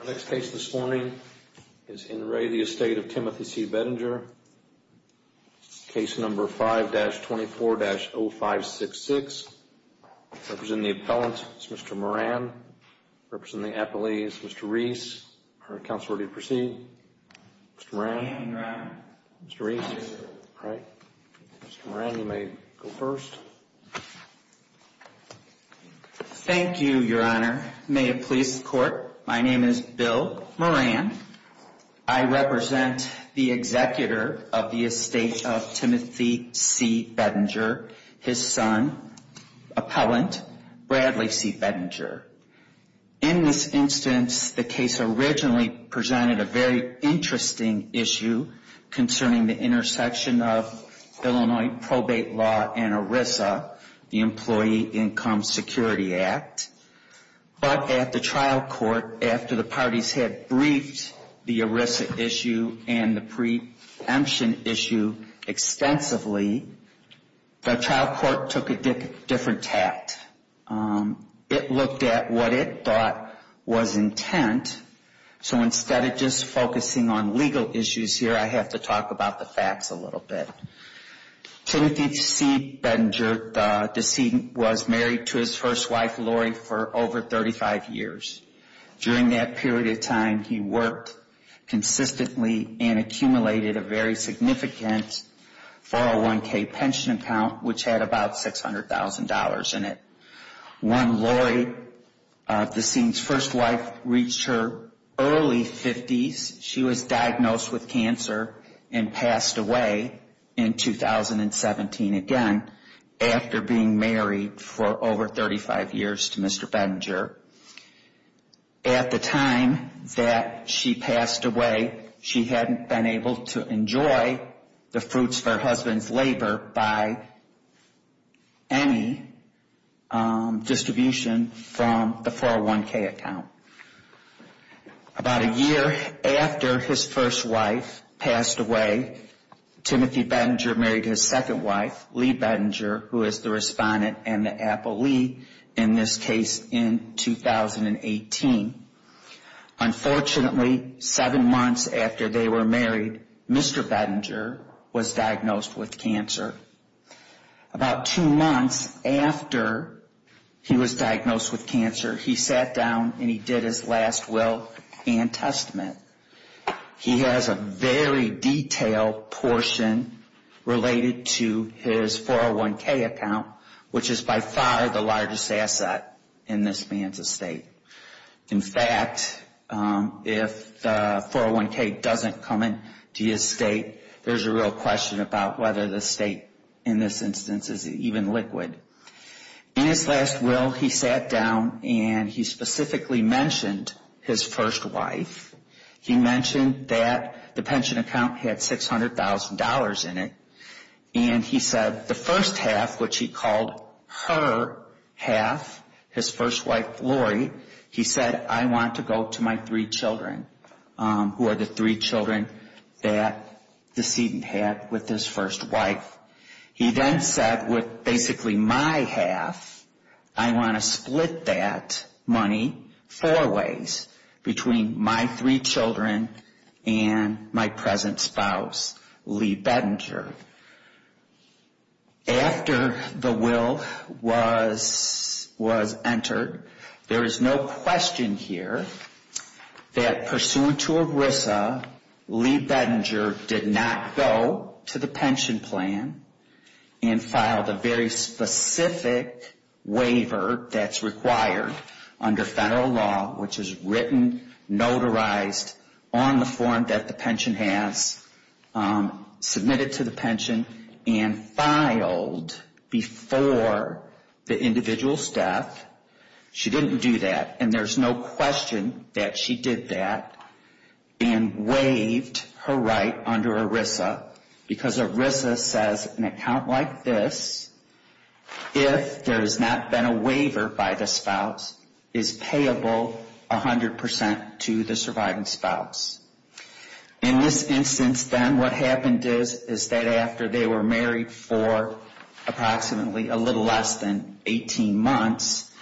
Our next case this morning is In Re, the estate of Timothy C. Bedinger. Case number 5-24-0566. Representing the appellant is Mr. Moran. Representing the appellee is Mr. Reese. Are counsel ready to proceed? Mr. Moran? I am, Your Honor. Mr. Reese? All right. Mr. Moran, you may go first. Thank you, Your Honor. Thank you, Your Honor. May it please the Court, my name is Bill Moran. I represent the executor of the estate of Timothy C. Bedinger, his son, appellant, Bradley C. Bedinger. In this instance, the case originally presented a very interesting issue concerning the intersection of Illinois probate law and ERISA, the Employee Income Security Act. But at the trial court, after the parties had briefed the ERISA issue and the preemption issue extensively, the trial court took a different tact. It looked at what it thought was intent, so instead of just focusing on legal issues here, I have to talk about the facts a little bit. Timothy C. Bedinger, the decedent, was married to his first wife, Lori, for over 35 years. During that period of time, he worked consistently and accumulated a very significant 401k pension account which had about $600,000 in it. When Lori, the decedent's first wife, reached her early 50s, she was diagnosed with cancer and passed away in 2017, again, after being married for over 35 years to Mr. Bedinger. At the time that she passed away, she hadn't been able to enjoy the fruits of her husband's labor by any distribution from the 401k account. About a year after his first wife passed away, Timothy Bedinger married his second wife, Lee Bedinger, who is the respondent and the appellee in this case in 2018. Unfortunately, seven months after they were married, Mr. Bedinger was diagnosed with cancer. About two months after he was diagnosed with cancer, he sat down and he did his last will and testament. He has a very detailed portion related to his 401k account, which is by far the largest asset in this man's estate. In fact, if the 401k doesn't come into his estate, there's a real question about whether the estate in this instance is even liquid. In his last will, he sat down and he specifically mentioned his first wife. He mentioned that the pension account had $600,000 in it and he said the first half, which he called her half, his first wife Lori, he said, I want to go to my three children, who are the three children that the decedent had with his first wife. He then said, with basically my half, I want to split that money four ways, between my three children and my present spouse, Lee Bedinger. After the will was entered, there is no question here that pursuant to ERISA, Lee Bedinger did not go to the pension plan and filed a very specific waiver that's required under federal law, which is written, notarized on the form that the pension has, submitted to the pension and filed before the individual's death. She didn't do that and there's no question that she did that and waived her right under ERISA because ERISA says an account like this, if there has not been a waiver by the spouse, is payable 100% to the surviving spouse. In this instance then, what happened is, is that after they were married for approximately a little less than 18 months,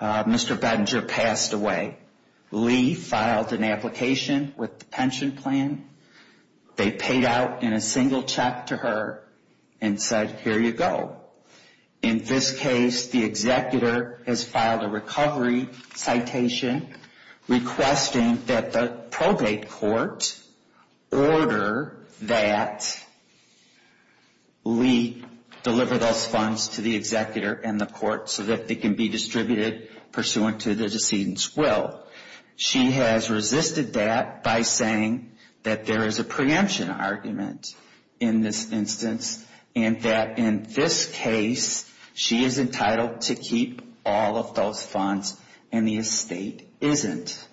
Mr. Bedinger passed away. Lee filed an application with the pension plan. They paid out in a single check to her and said, here you go. In this case, the executor has filed a recovery citation requesting that the probate court order that Lee deliver those funds to the executor and the court so that they can be distributed pursuant to the decedent's will. She has resisted that by saying that there is a preemption argument in this instance and that in this case, she is entitled to keep all of those funds and the estate isn't.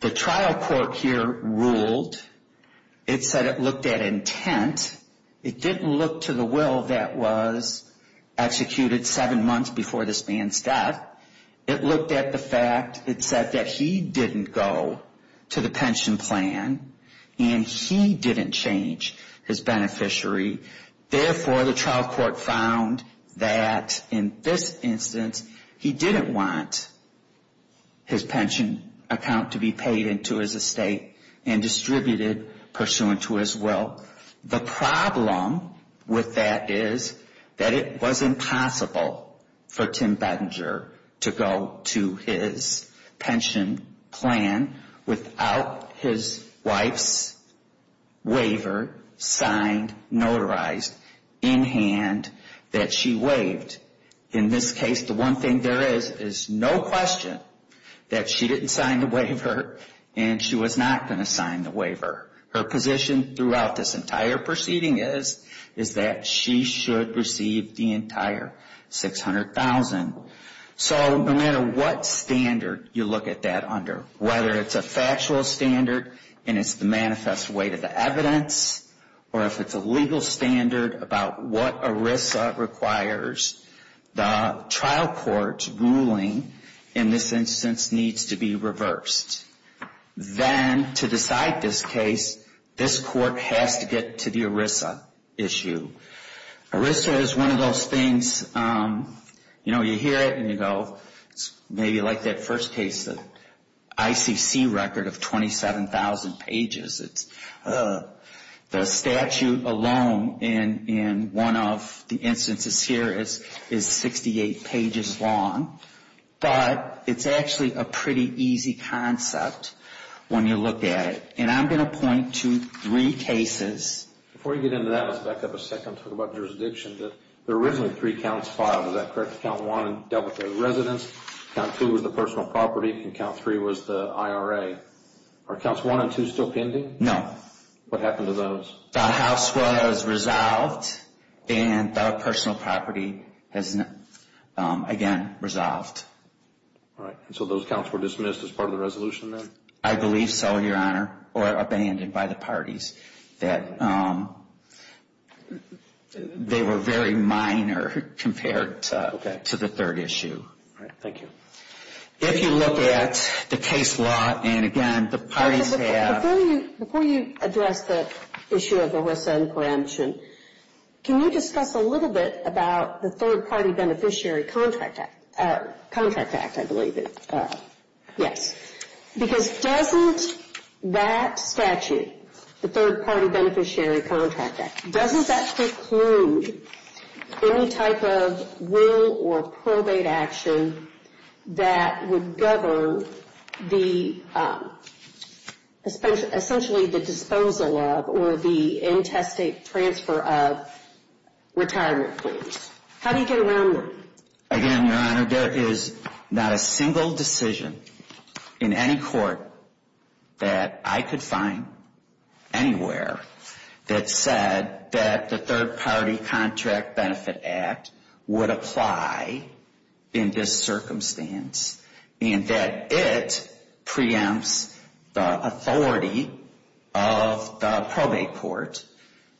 The trial court here ruled, it said it looked at intent. It didn't look to the will that was executed seven months before this man's death. It looked at the fact, it said that he didn't go to the pension plan and he didn't change his beneficiary. Therefore, the trial court found that in this instance, he didn't want his pension account to be paid into his estate and distributed pursuant to his will. The problem with that is that it was impossible for Tim Bedinger to go to his pension plan without his wife's waiver signed, notarized, in hand that she waived. In this case, the one thing there is, is no question that she didn't sign the waiver and she was not going to sign the waiver. Her position throughout this entire proceeding is that she should receive the entire $600,000. No matter what standard you look at that under, whether it's a factual standard and it's the manifest way to the evidence or if it's a legal standard about what ERISA requires, the trial court's ruling in this instance needs to be reversed. Then, to decide this case, this court has to get to the ERISA issue. ERISA is one of those things, you know, you hear it and you go, maybe like that first case, the ICC record of 27,000 pages. The statute alone in one of the instances here is 68 pages long, but it's actually a pretty easy concept when you look at it. I'm going to point to three cases. Before we get into that, let's back up a second and talk about jurisdiction. There were originally three counts filed, is that correct? Count 1 dealt with the residents, Count 2 was the personal property, and Count 3 was the IRA. Are Counts 1 and 2 still pending? No. What happened to those? The house was resolved and the personal property is again resolved. All right. So those counts were dismissed as part of the resolution then? I believe so, Your Honor, or abandoned by the parties. They were very minor compared to the third issue. All right. Thank you. If you look at the case law, and again, the parties have... Before you address the issue of ERISA and coemption, can you discuss a little bit about the Third Party Beneficiary Contract Act, I believe it is. Yes. Because doesn't that statute, the Third Party Beneficiary Contract Act, doesn't that preclude any type of will or probate action that would govern essentially the disposal of or the intestate transfer of retirement claims? How do you get around that? Again, Your Honor, there is not a single decision in any court that I could find anywhere that said that the Third Party Contract Benefit Act would apply in this circumstance, and that it preempts the authority of the probate court,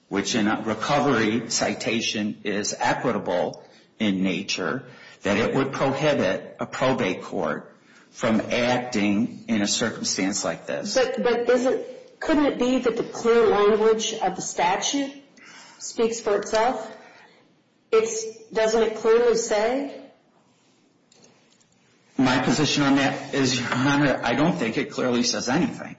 which in a recovery citation is equitable in nature, that it would prohibit a probate court from acting in a circumstance like this. But couldn't it be that the clear language of the statute speaks for itself? Doesn't it clearly say? My position on that is, Your Honor, I don't think it clearly says anything.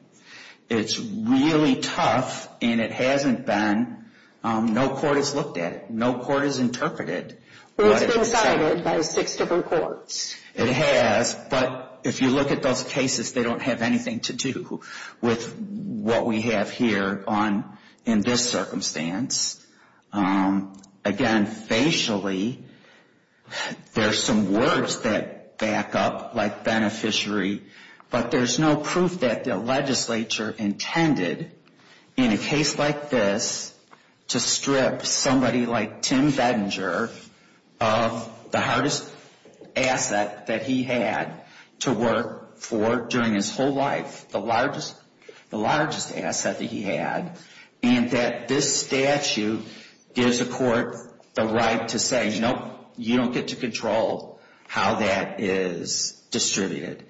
It's really tough, and it hasn't been, no court has looked at it. No court has interpreted. Well, it's been cited by six different courts. It has, but if you look at those cases, they don't have anything to do with what we have here in this circumstance. Again, facially, there's some words that back up, like beneficiary, but there's no proof that the legislature intended in a case like this to strip somebody like Tim Bedinger of the hardest asset that he had to work for during his whole life, the largest asset that he had, and that this statute gives the court the right to say, Nope, you don't get to control how that is distributed.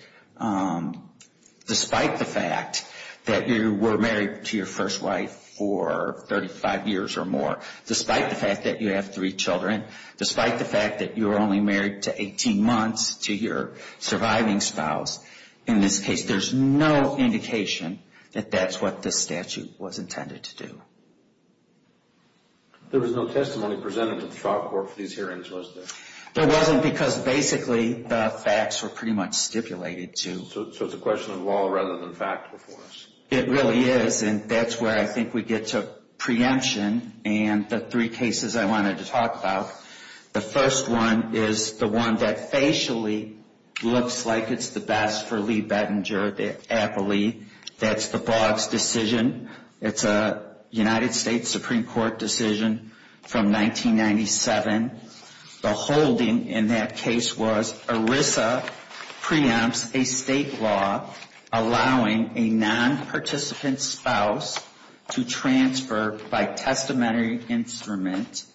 Despite the fact that you were married to your first wife for 35 years or more, despite the fact that you have three children, despite the fact that you were only married to 18 months to your surviving spouse, in this case, there's no indication that that's what this statute was intended to do. There was no testimony presented to the trial court for these hearings, was there? There wasn't, because basically the facts were pretty much stipulated to. So it's a question of law rather than fact before us. It really is, and that's where I think we get to preemption and the three cases I wanted to talk about. The first one is the one that facially looks like it's the best for Lee Bedinger, the appellee, that's the Boggs decision. It's a United States Supreme Court decision from 1997. The holding in that case was ERISA preempts a state law allowing a non-participant spouse to transfer by testamentary instrument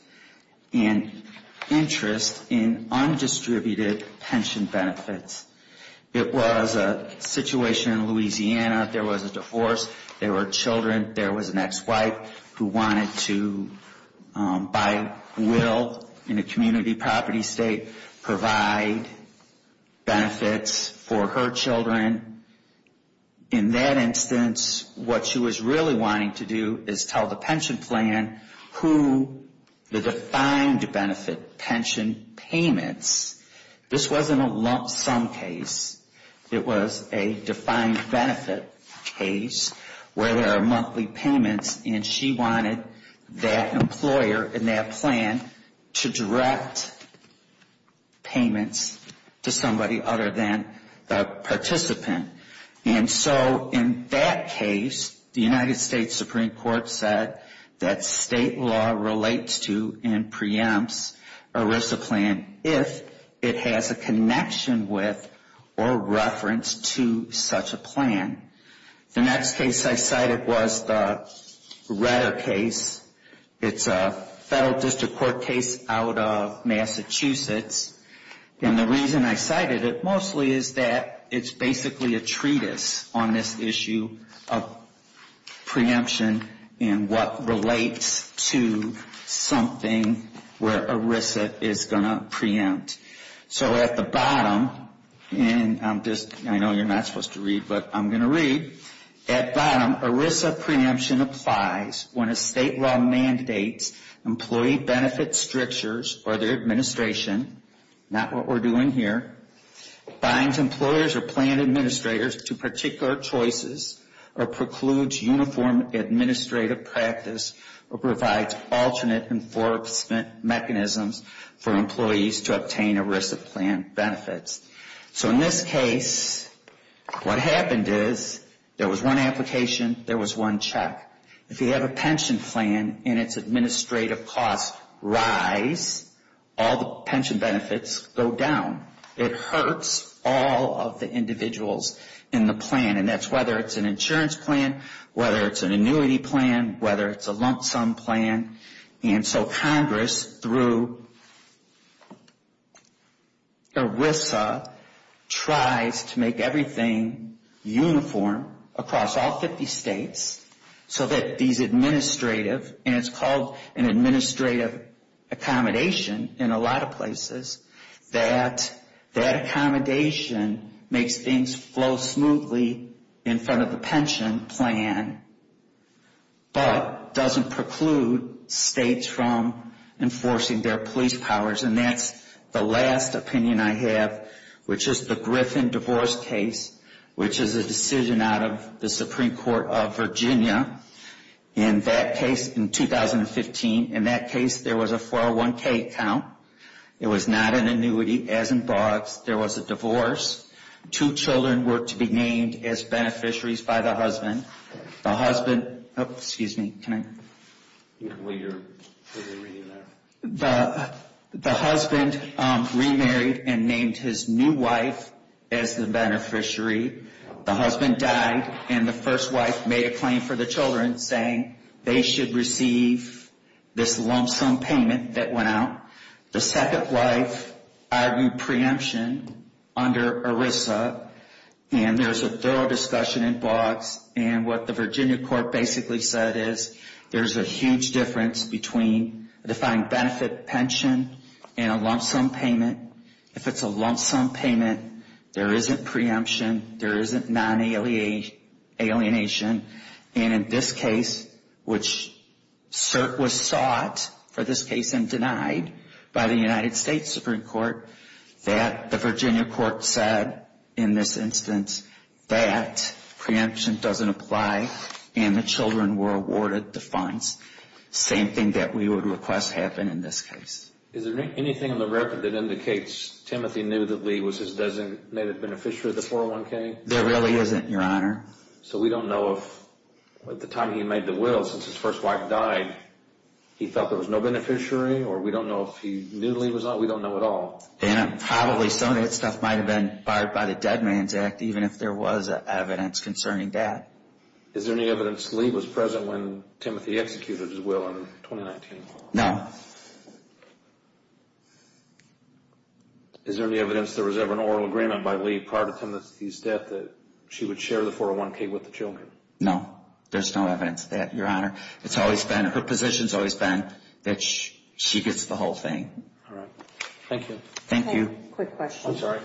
an interest in undistributed pension benefits. It was a situation in Louisiana. There was a divorce. There were children. There was an ex-wife who wanted to, by will in a community property state, provide benefits for her children. In that instance, what she was really wanting to do is tell the pension plan who the defined benefit pension payments. This wasn't a lump sum case. It was a defined benefit case where there are monthly payments, and she wanted that employer in that plan to direct payments to somebody other than the participant. And so in that case, the United States Supreme Court said that state law relates to and preempts ERISA plan if it has a connection with or reference to such a plan. The next case I cited was the Redder case. It's a federal district court case out of Massachusetts. And the reason I cited it mostly is that it's basically a treatise on this issue of preemption and what relates to something where ERISA is going to preempt. So at the bottom, and I know you're not supposed to read, but I'm going to read. At bottom, ERISA preemption applies when a state law mandates employee benefit strictures or their administration, not what we're doing here, binds employers or plan administrators to particular choices or precludes uniform administrative practice or provides alternate enforcement mechanisms for employees to obtain ERISA plan benefits. So in this case, what happened is there was one application, there was one check. If you have a pension plan and its administrative costs rise, all the pension benefits go down. It hurts all of the individuals in the plan. And that's whether it's an insurance plan, whether it's an annuity plan, whether it's a lump sum plan. And so Congress, through ERISA, tries to make everything uniform across all 50 states so that these administrative, and it's called an administrative accommodation in a lot of places, that that accommodation makes things flow smoothly in front of the pension plan but doesn't preclude states from enforcing their police powers. And that's the last opinion I have, which is the Griffin divorce case, which is a decision out of the Supreme Court of Virginia. In that case, in 2015, in that case there was a 401k account. It was not an annuity, as in Boggs. There was a divorce. Two children were to be named as beneficiaries by the husband. The husband, excuse me, can I? Well, you're reading that. The husband remarried and named his new wife as the beneficiary. The husband died and the first wife made a claim for the children saying they should receive this lump sum payment that went out. The second wife argued preemption under ERISA. And there's a thorough discussion in Boggs and what the Virginia court basically said is there's a huge difference between a defined benefit pension and a lump sum payment. If it's a lump sum payment, there isn't preemption. There isn't non-alienation. And in this case, which was sought for this case and denied by the United States Supreme Court, that the Virginia court said in this instance that preemption doesn't apply and the children were awarded the funds. Same thing that we would request happen in this case. Is there anything in the record that indicates Timothy knew that Lee was his designated beneficiary of the 401k? There really isn't, Your Honor. So we don't know if at the time he made the will since his first wife died, he thought there was no beneficiary or we don't know if he knew Lee was not? We don't know at all. And probably some of that stuff might have been barred by the Dead Man's Act even if there was evidence concerning that. Is there any evidence Lee was present when Timothy executed his will in 2019? No. Is there any evidence there was ever an oral agreement by Lee prior to Timothy's death that she would share the 401k with the children? No. There's no evidence of that, Your Honor. It's always been, her position's always been that she gets the whole thing. All right. Thank you. Thank you. Quick question. I'm sorry.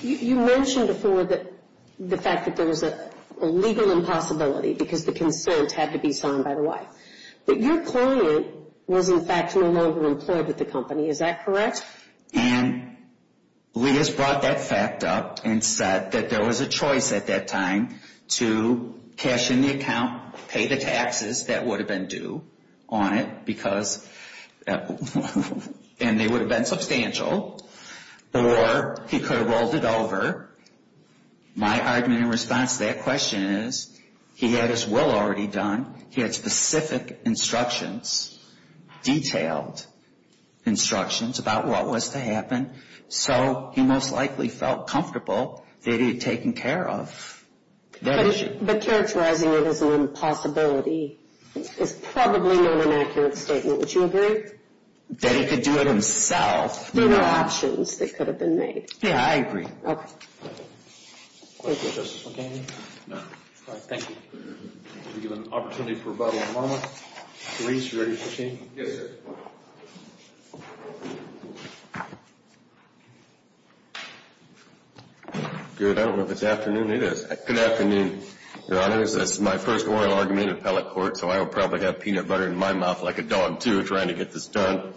You mentioned before that the fact that there was a legal impossibility because the concerns had to be signed by the wife. But your client was, in fact, no longer employed with the company. Is that correct? And Lee has brought that fact up and said that there was a choice at that time to cash in the account, pay the taxes that would have been due on it because, and they would have been substantial or he could have rolled it over. My argument in response to that question is he had his will already done. He had specific instructions, detailed instructions about what was to happen. So he most likely felt comfortable that he had taken care of that issue. But characterizing it as an impossibility is probably not an accurate statement. Would you agree? That he could do it himself. There were options that could have been made. Yeah, I agree. Okay. Thank you. Thank you, Justice Mulcahy. No. All right. Thank you. We have an opportunity for a bottle of water. Reese, you ready for change? Yes, sir. Good. I don't know if it's afternoon. It is. Good afternoon, Your Honors. This is my first oral argument in appellate court so I will probably have peanut butter in my mouth like a dog, too, trying to get this done.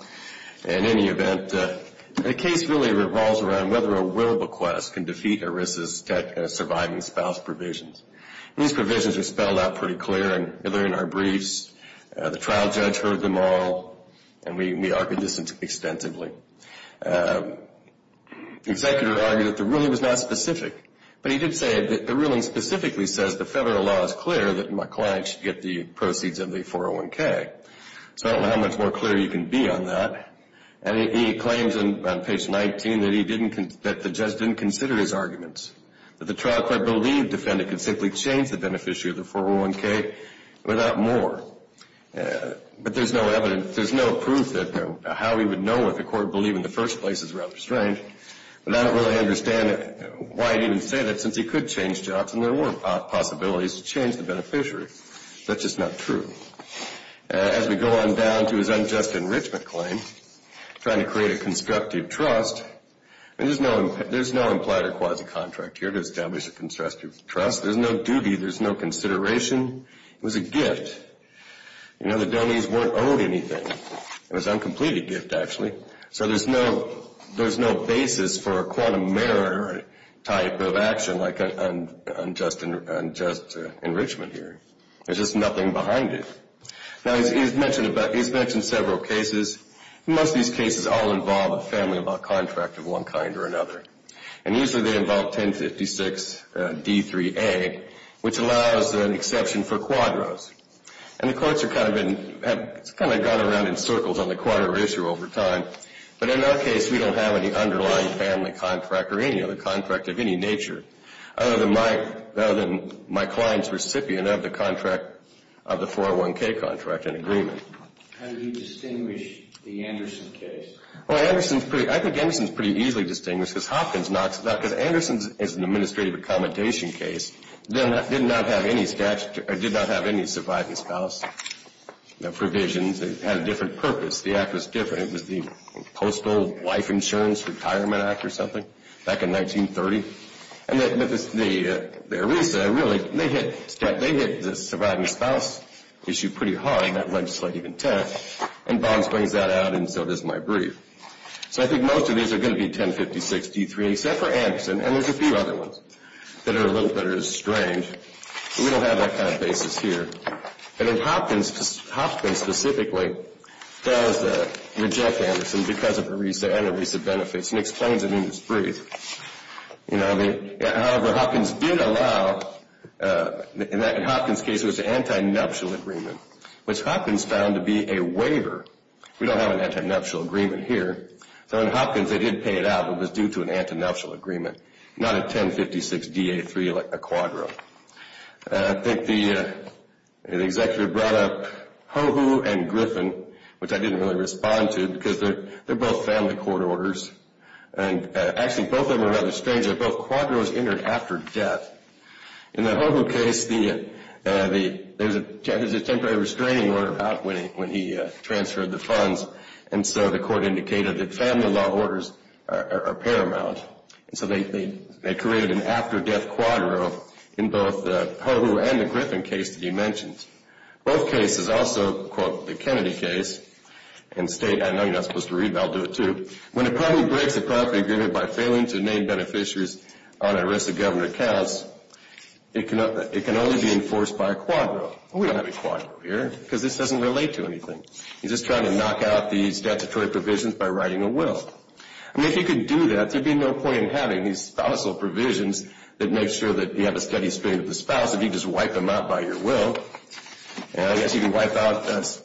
In any event, the case really revolves around whether a will bequest can defeat ERISA's surviving spouse provisions. These provisions are spelled out pretty clear and they're in our briefs. The trial judge heard them all and we argued this extensively. The executor argued that the ruling was not specific but he did say that the ruling specifically says the federal law is clear that my client should get the proceeds of the 401K. So I don't know how much more clear you can be on that. And he claims on page 19 that the judge didn't consider his arguments. That the trial court believed the defendant could simply change the beneficiary of the 401K without more. But there's no evidence, there's no proof that how he would know what the court believed in the first place is rather strange. But I don't really understand why he didn't say that since he could change jobs and there were possibilities to change the beneficiary. That's just not true. As we go on down to his unjust enrichment claim trying to create a constructive trust, there's no implied or quasi-contract here to establish a constructive trust. There's no duty, there's no consideration. It was a gift. You know the donees weren't owed anything. It was an uncompleted gift actually. So there's no basis for a quantum mirror type of action like an unjust enrichment here. There's just nothing behind it. Now he's mentioned several cases. Most of these cases all involve a family law contract of one kind or another. And usually they involve 1056 D3A which allows an exception for quadros. And the courts have kind of gone around in circles on the quadro issue over time. But in our case we don't have any underlying family contract or any other contract of any nature other than my client's recipient of the 401K contract in agreement. How do you distinguish the Anderson case? I think Anderson is pretty easily distinguished because Hopkins knocks it out. Because Anderson is an administrative accommodation case that did not have any surviving spouse provisions. It had a different purpose. The act was different. It was the Postal Life Insurance Retirement Act or something back in 1930. And they really hit the surviving spouse issue pretty hard in that legislative intent. And Boggs brings that out and so does my brief. So I think most of these are going to be 1056 D3A except for Anderson. And there's a few other ones that are a little bit strange. We don't have that kind of basis here. And Hopkins specifically does reject Anderson because of ERISA and ERISA benefits and explains it in his brief. However, Hopkins did allow in Hopkins' case it was an anti-nuptial agreement which Hopkins found to be a waiver. We don't have an anti-nuptial agreement here. So in Hopkins they did pay it out but it was due to an anti-nuptial agreement not a 1056 D3A quadro. I think the executive brought up Hohu and Griffin which I didn't really respond to because they're both family court orders. And actually both of them are rather strange that both quadros entered after death. In the Hohu case there's a temporary restraining order about when he transferred the funds and so the court indicated that family law orders are paramount. And so they created an after death quadro in both the Hohu and the Griffin case that you mentioned. Both cases also, quote, the Kennedy case and state, I know you're not supposed to read but I'll do it too. When a party breaks a property agreement by failing to name beneficiaries on ERISA government accounts it can only be enforced by a quadro. We don't have a quadro here because this doesn't relate to anything. He's just trying to knock out the statutory provisions by writing a will. I mean if he could do that there'd be no point in having these spousal provisions that make sure that you have a steady stream of the spouse if you just wipe them out by your will. I guess you can wipe out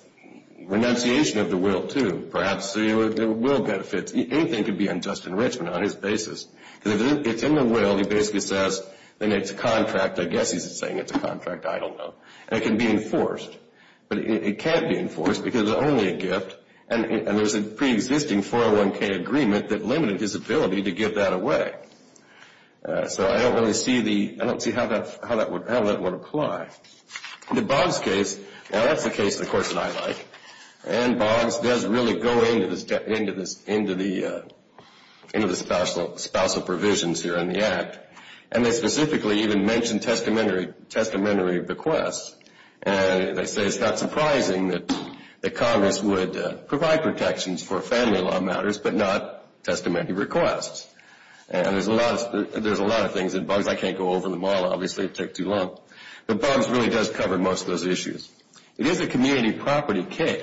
renunciation of the will too, perhaps. There are will benefits. Anything could be unjust enrichment on his basis. Because if it's in the will he basically says then it's a contract. I guess he's saying it's a contract. I don't know. And it can be enforced. But it can't be enforced because it's only a gift and there's a pre-existing 401k agreement that limited his ability to give that away. So I don't really see the I don't see how that would apply. The Boggs case now that's the case of course that I like and Boggs does really go into the spousal provisions here in the Act and they specifically even mention testamentary requests and they say it's not surprising that Congress would provide protections for family law matters but not testamentary requests. And there's a lot of things and Boggs I can't go over them all obviously it would take too long but Boggs really does cover most of those issues. It is a community property case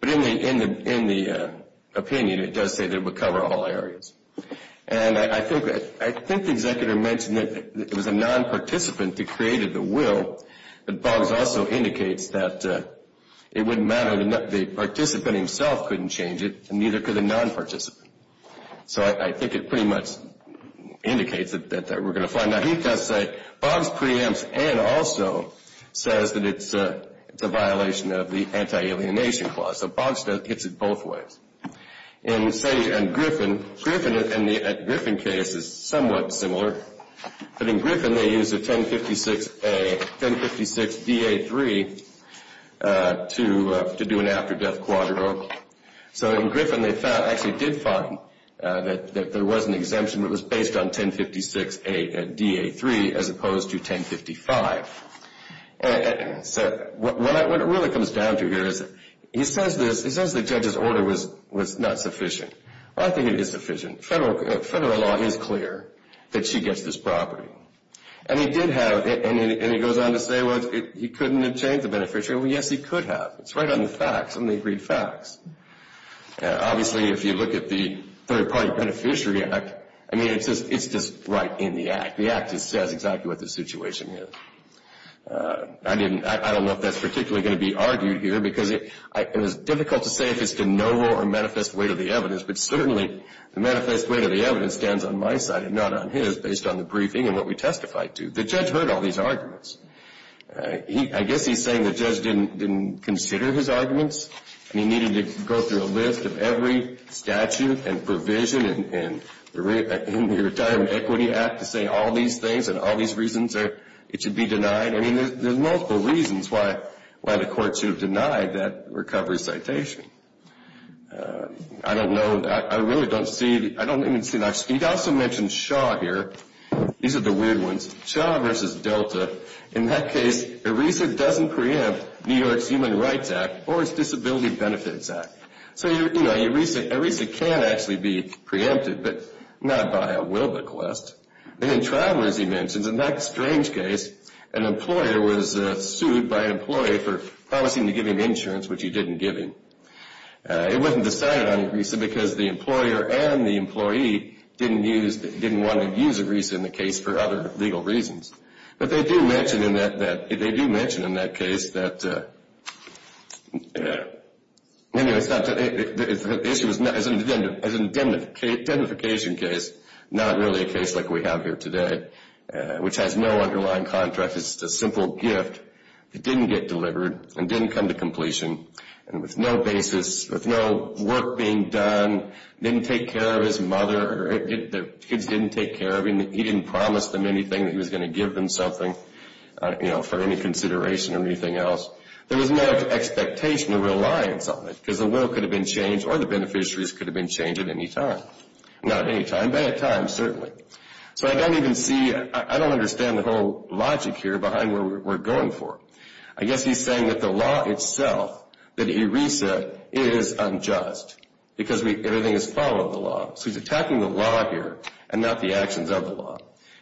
but in the opinion it does say that it would cover all areas. And I think I think the executor mentioned that it was a non-participant that created the will but Boggs also indicates that it wouldn't matter the participant himself couldn't change it and neither could the non-participant. So I think it pretty much indicates that we're going to find now he does say Boggs preempts and also says that it's it's a violation of the anti-alienation clause so Boggs hits it both ways. And say and Griffin Griffin Griffin case is somewhat similar but in Griffin they use a 1056 a 1056-DA3 to do an after death quadro so in Griffin they found actually did find that there was an exemption that was based on 1056-DA3 as opposed to 1055. So what it really comes down to here is he says this he says the judge's order was not sufficient I think it is sufficient federal federal law is clear that she gets this property and he did have and he goes on to say well he couldn't have changed the beneficiary well yes he could have it's right on the facts on the agreed facts obviously if you look at the third party beneficiary act I mean it's just right in the act the act just says exactly what the situation is I didn't I don't know if that's particularly going to be argued here because it was difficult to say if it's de novo or manifest way to the evidence but certainly the manifest way to the evidence stands on my side and not on his based on the briefing and what we testified to the judge heard all these arguments I guess he's saying the judge didn't consider his arguments and he needed to go through a list of every statute and provision and in the retirement equity act to say all these things and all these reasons it should be denied I mean there's multiple reasons why why the court should have denied that recovery citation I don't know I really don't see I don't even see he also mentioned Shaw here these are the weird ones Shaw versus Delta in that case ERISA doesn't preempt New York's Human Rights Act or it's Disability Benefits Act so you know ERISA can't actually be preempted but not by a Wilbequest and travelers he mentions in that strange case an employer was sued by an employee for promising to give him insurance which he didn't give him it wasn't decided on ERISA because the employer and the employee didn't use didn't want to use ERISA in the case for other legal reasons but they do mention in that they do mention in that case that anyway it's not the issue is an indemnification case not really a case like we have here today which has no underlying contract it's just a simple gift that didn't get delivered and didn't come to completion and with no basis with no work being done didn't take care of his mother or kids didn't take care of him he didn't promise them anything that he was going to give them something you know for any consideration or anything else there was no expectation or reliance on it because the will could have been changed or the beneficiaries could have been changed at any time not at any time but at times certainly so I don't even see I don't understand the whole logic here behind what we're going for I guess he's saying that the law itself that ERISA is unjust because everything is following the law so he's attacking the law here and not the actions of the law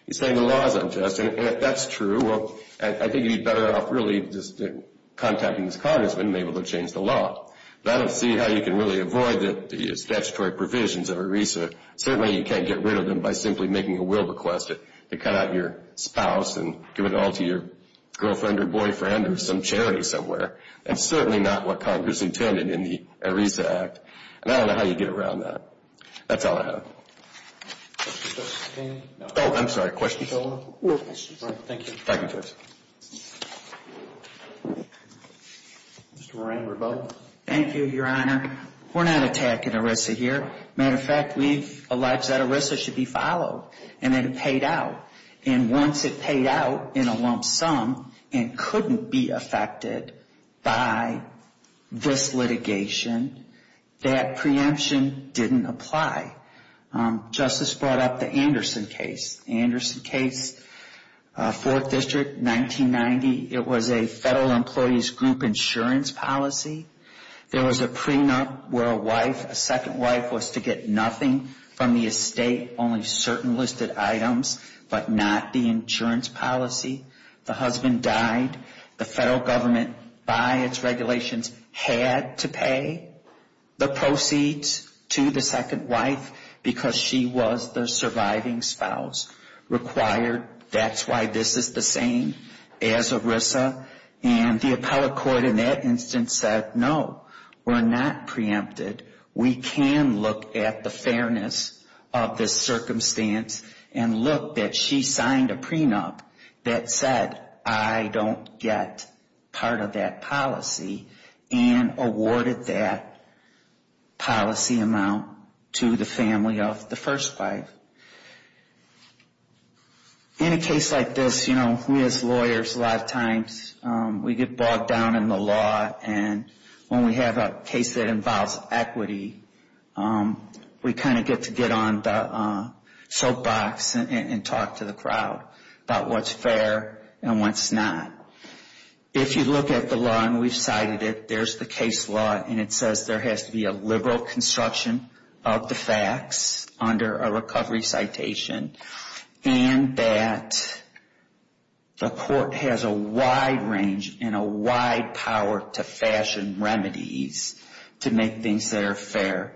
he's saying the law is unjust and if that's true well I think he's better off really contacting this congressman and being able to change the law but I don't see how you can really avoid the statutory provisions of ERISA certainly you can't get rid of them by simply making a will request to cut out your spouse and give it all to your girlfriend or boyfriend or some charity somewhere that's certainly not what congress intended in the ERISA Act and I don't know how you get around that that's all I have oh I'm sorry question thank you thank you judge Mr. Moran we're both thank you your honor we're not attacking ERISA here matter of fact we've alleged that ERISA should be followed and that it paid out and once it paid out in a lump sum and couldn't be affected by this litigation that preemption didn't apply justice brought up the Anderson case Anderson case 4th district 1990 it was a federal employees group insurance policy there was a prenup where a wife a second wife was to get nothing from the estate only certain listed items but not the insurance policy the husband died the federal government by its regulations had to pay the proceeds to the second wife because she was the surviving spouse required that's why this is the same as ERISA and the appellate court in that instance said no we're not preempted we can look at the fairness of this circumstance and look that she signed a prenup that said I don't get part of that policy and awarded that policy amount to the family of the first wife in a case like this we as lawyers a lot of times we get bogged down in the law and when we have a case that involves equity we kind of get to bottom of the case law and it says there has to be a liberal construction of the facts under a citation and that the has a wide range and a wide power to fashion remedies to make things that are fair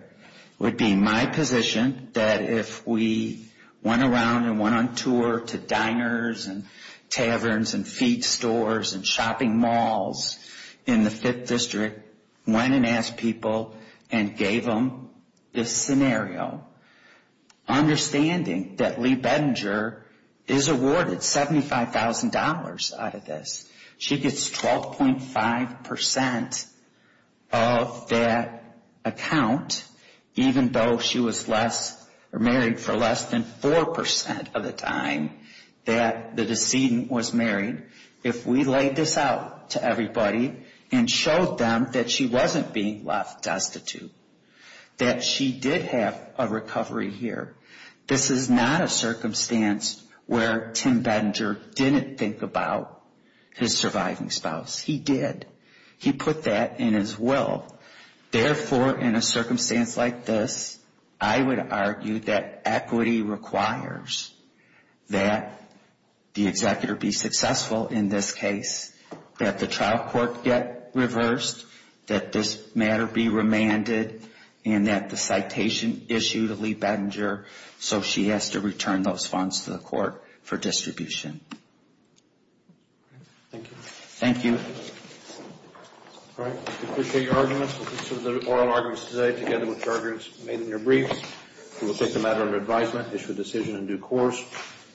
would be my position that if we went around and went on tour to diners and taverns and feed stores and shopping malls in the 5th district went and asked people and gave them this understanding that Lee Bedinger is awarded $75,000 out of this she gets 12.5% of that account even though she was less married for less than 4% of the time that the decedent was married if we laid this out to everybody and showed them that she wasn't being left destitute that she did have a here this is not a circumstance where Tim Bedinger didn't think about his surviving and court get reversed that this matter be remanded and that the citation issue to Lee Bedinger so she has to those funds to the court for distribution thank you you all right we appreciate your arguments we'll consider the oral arguments today together with the arguments made in your briefs we'll take the matter under advisement issue to the decision in due course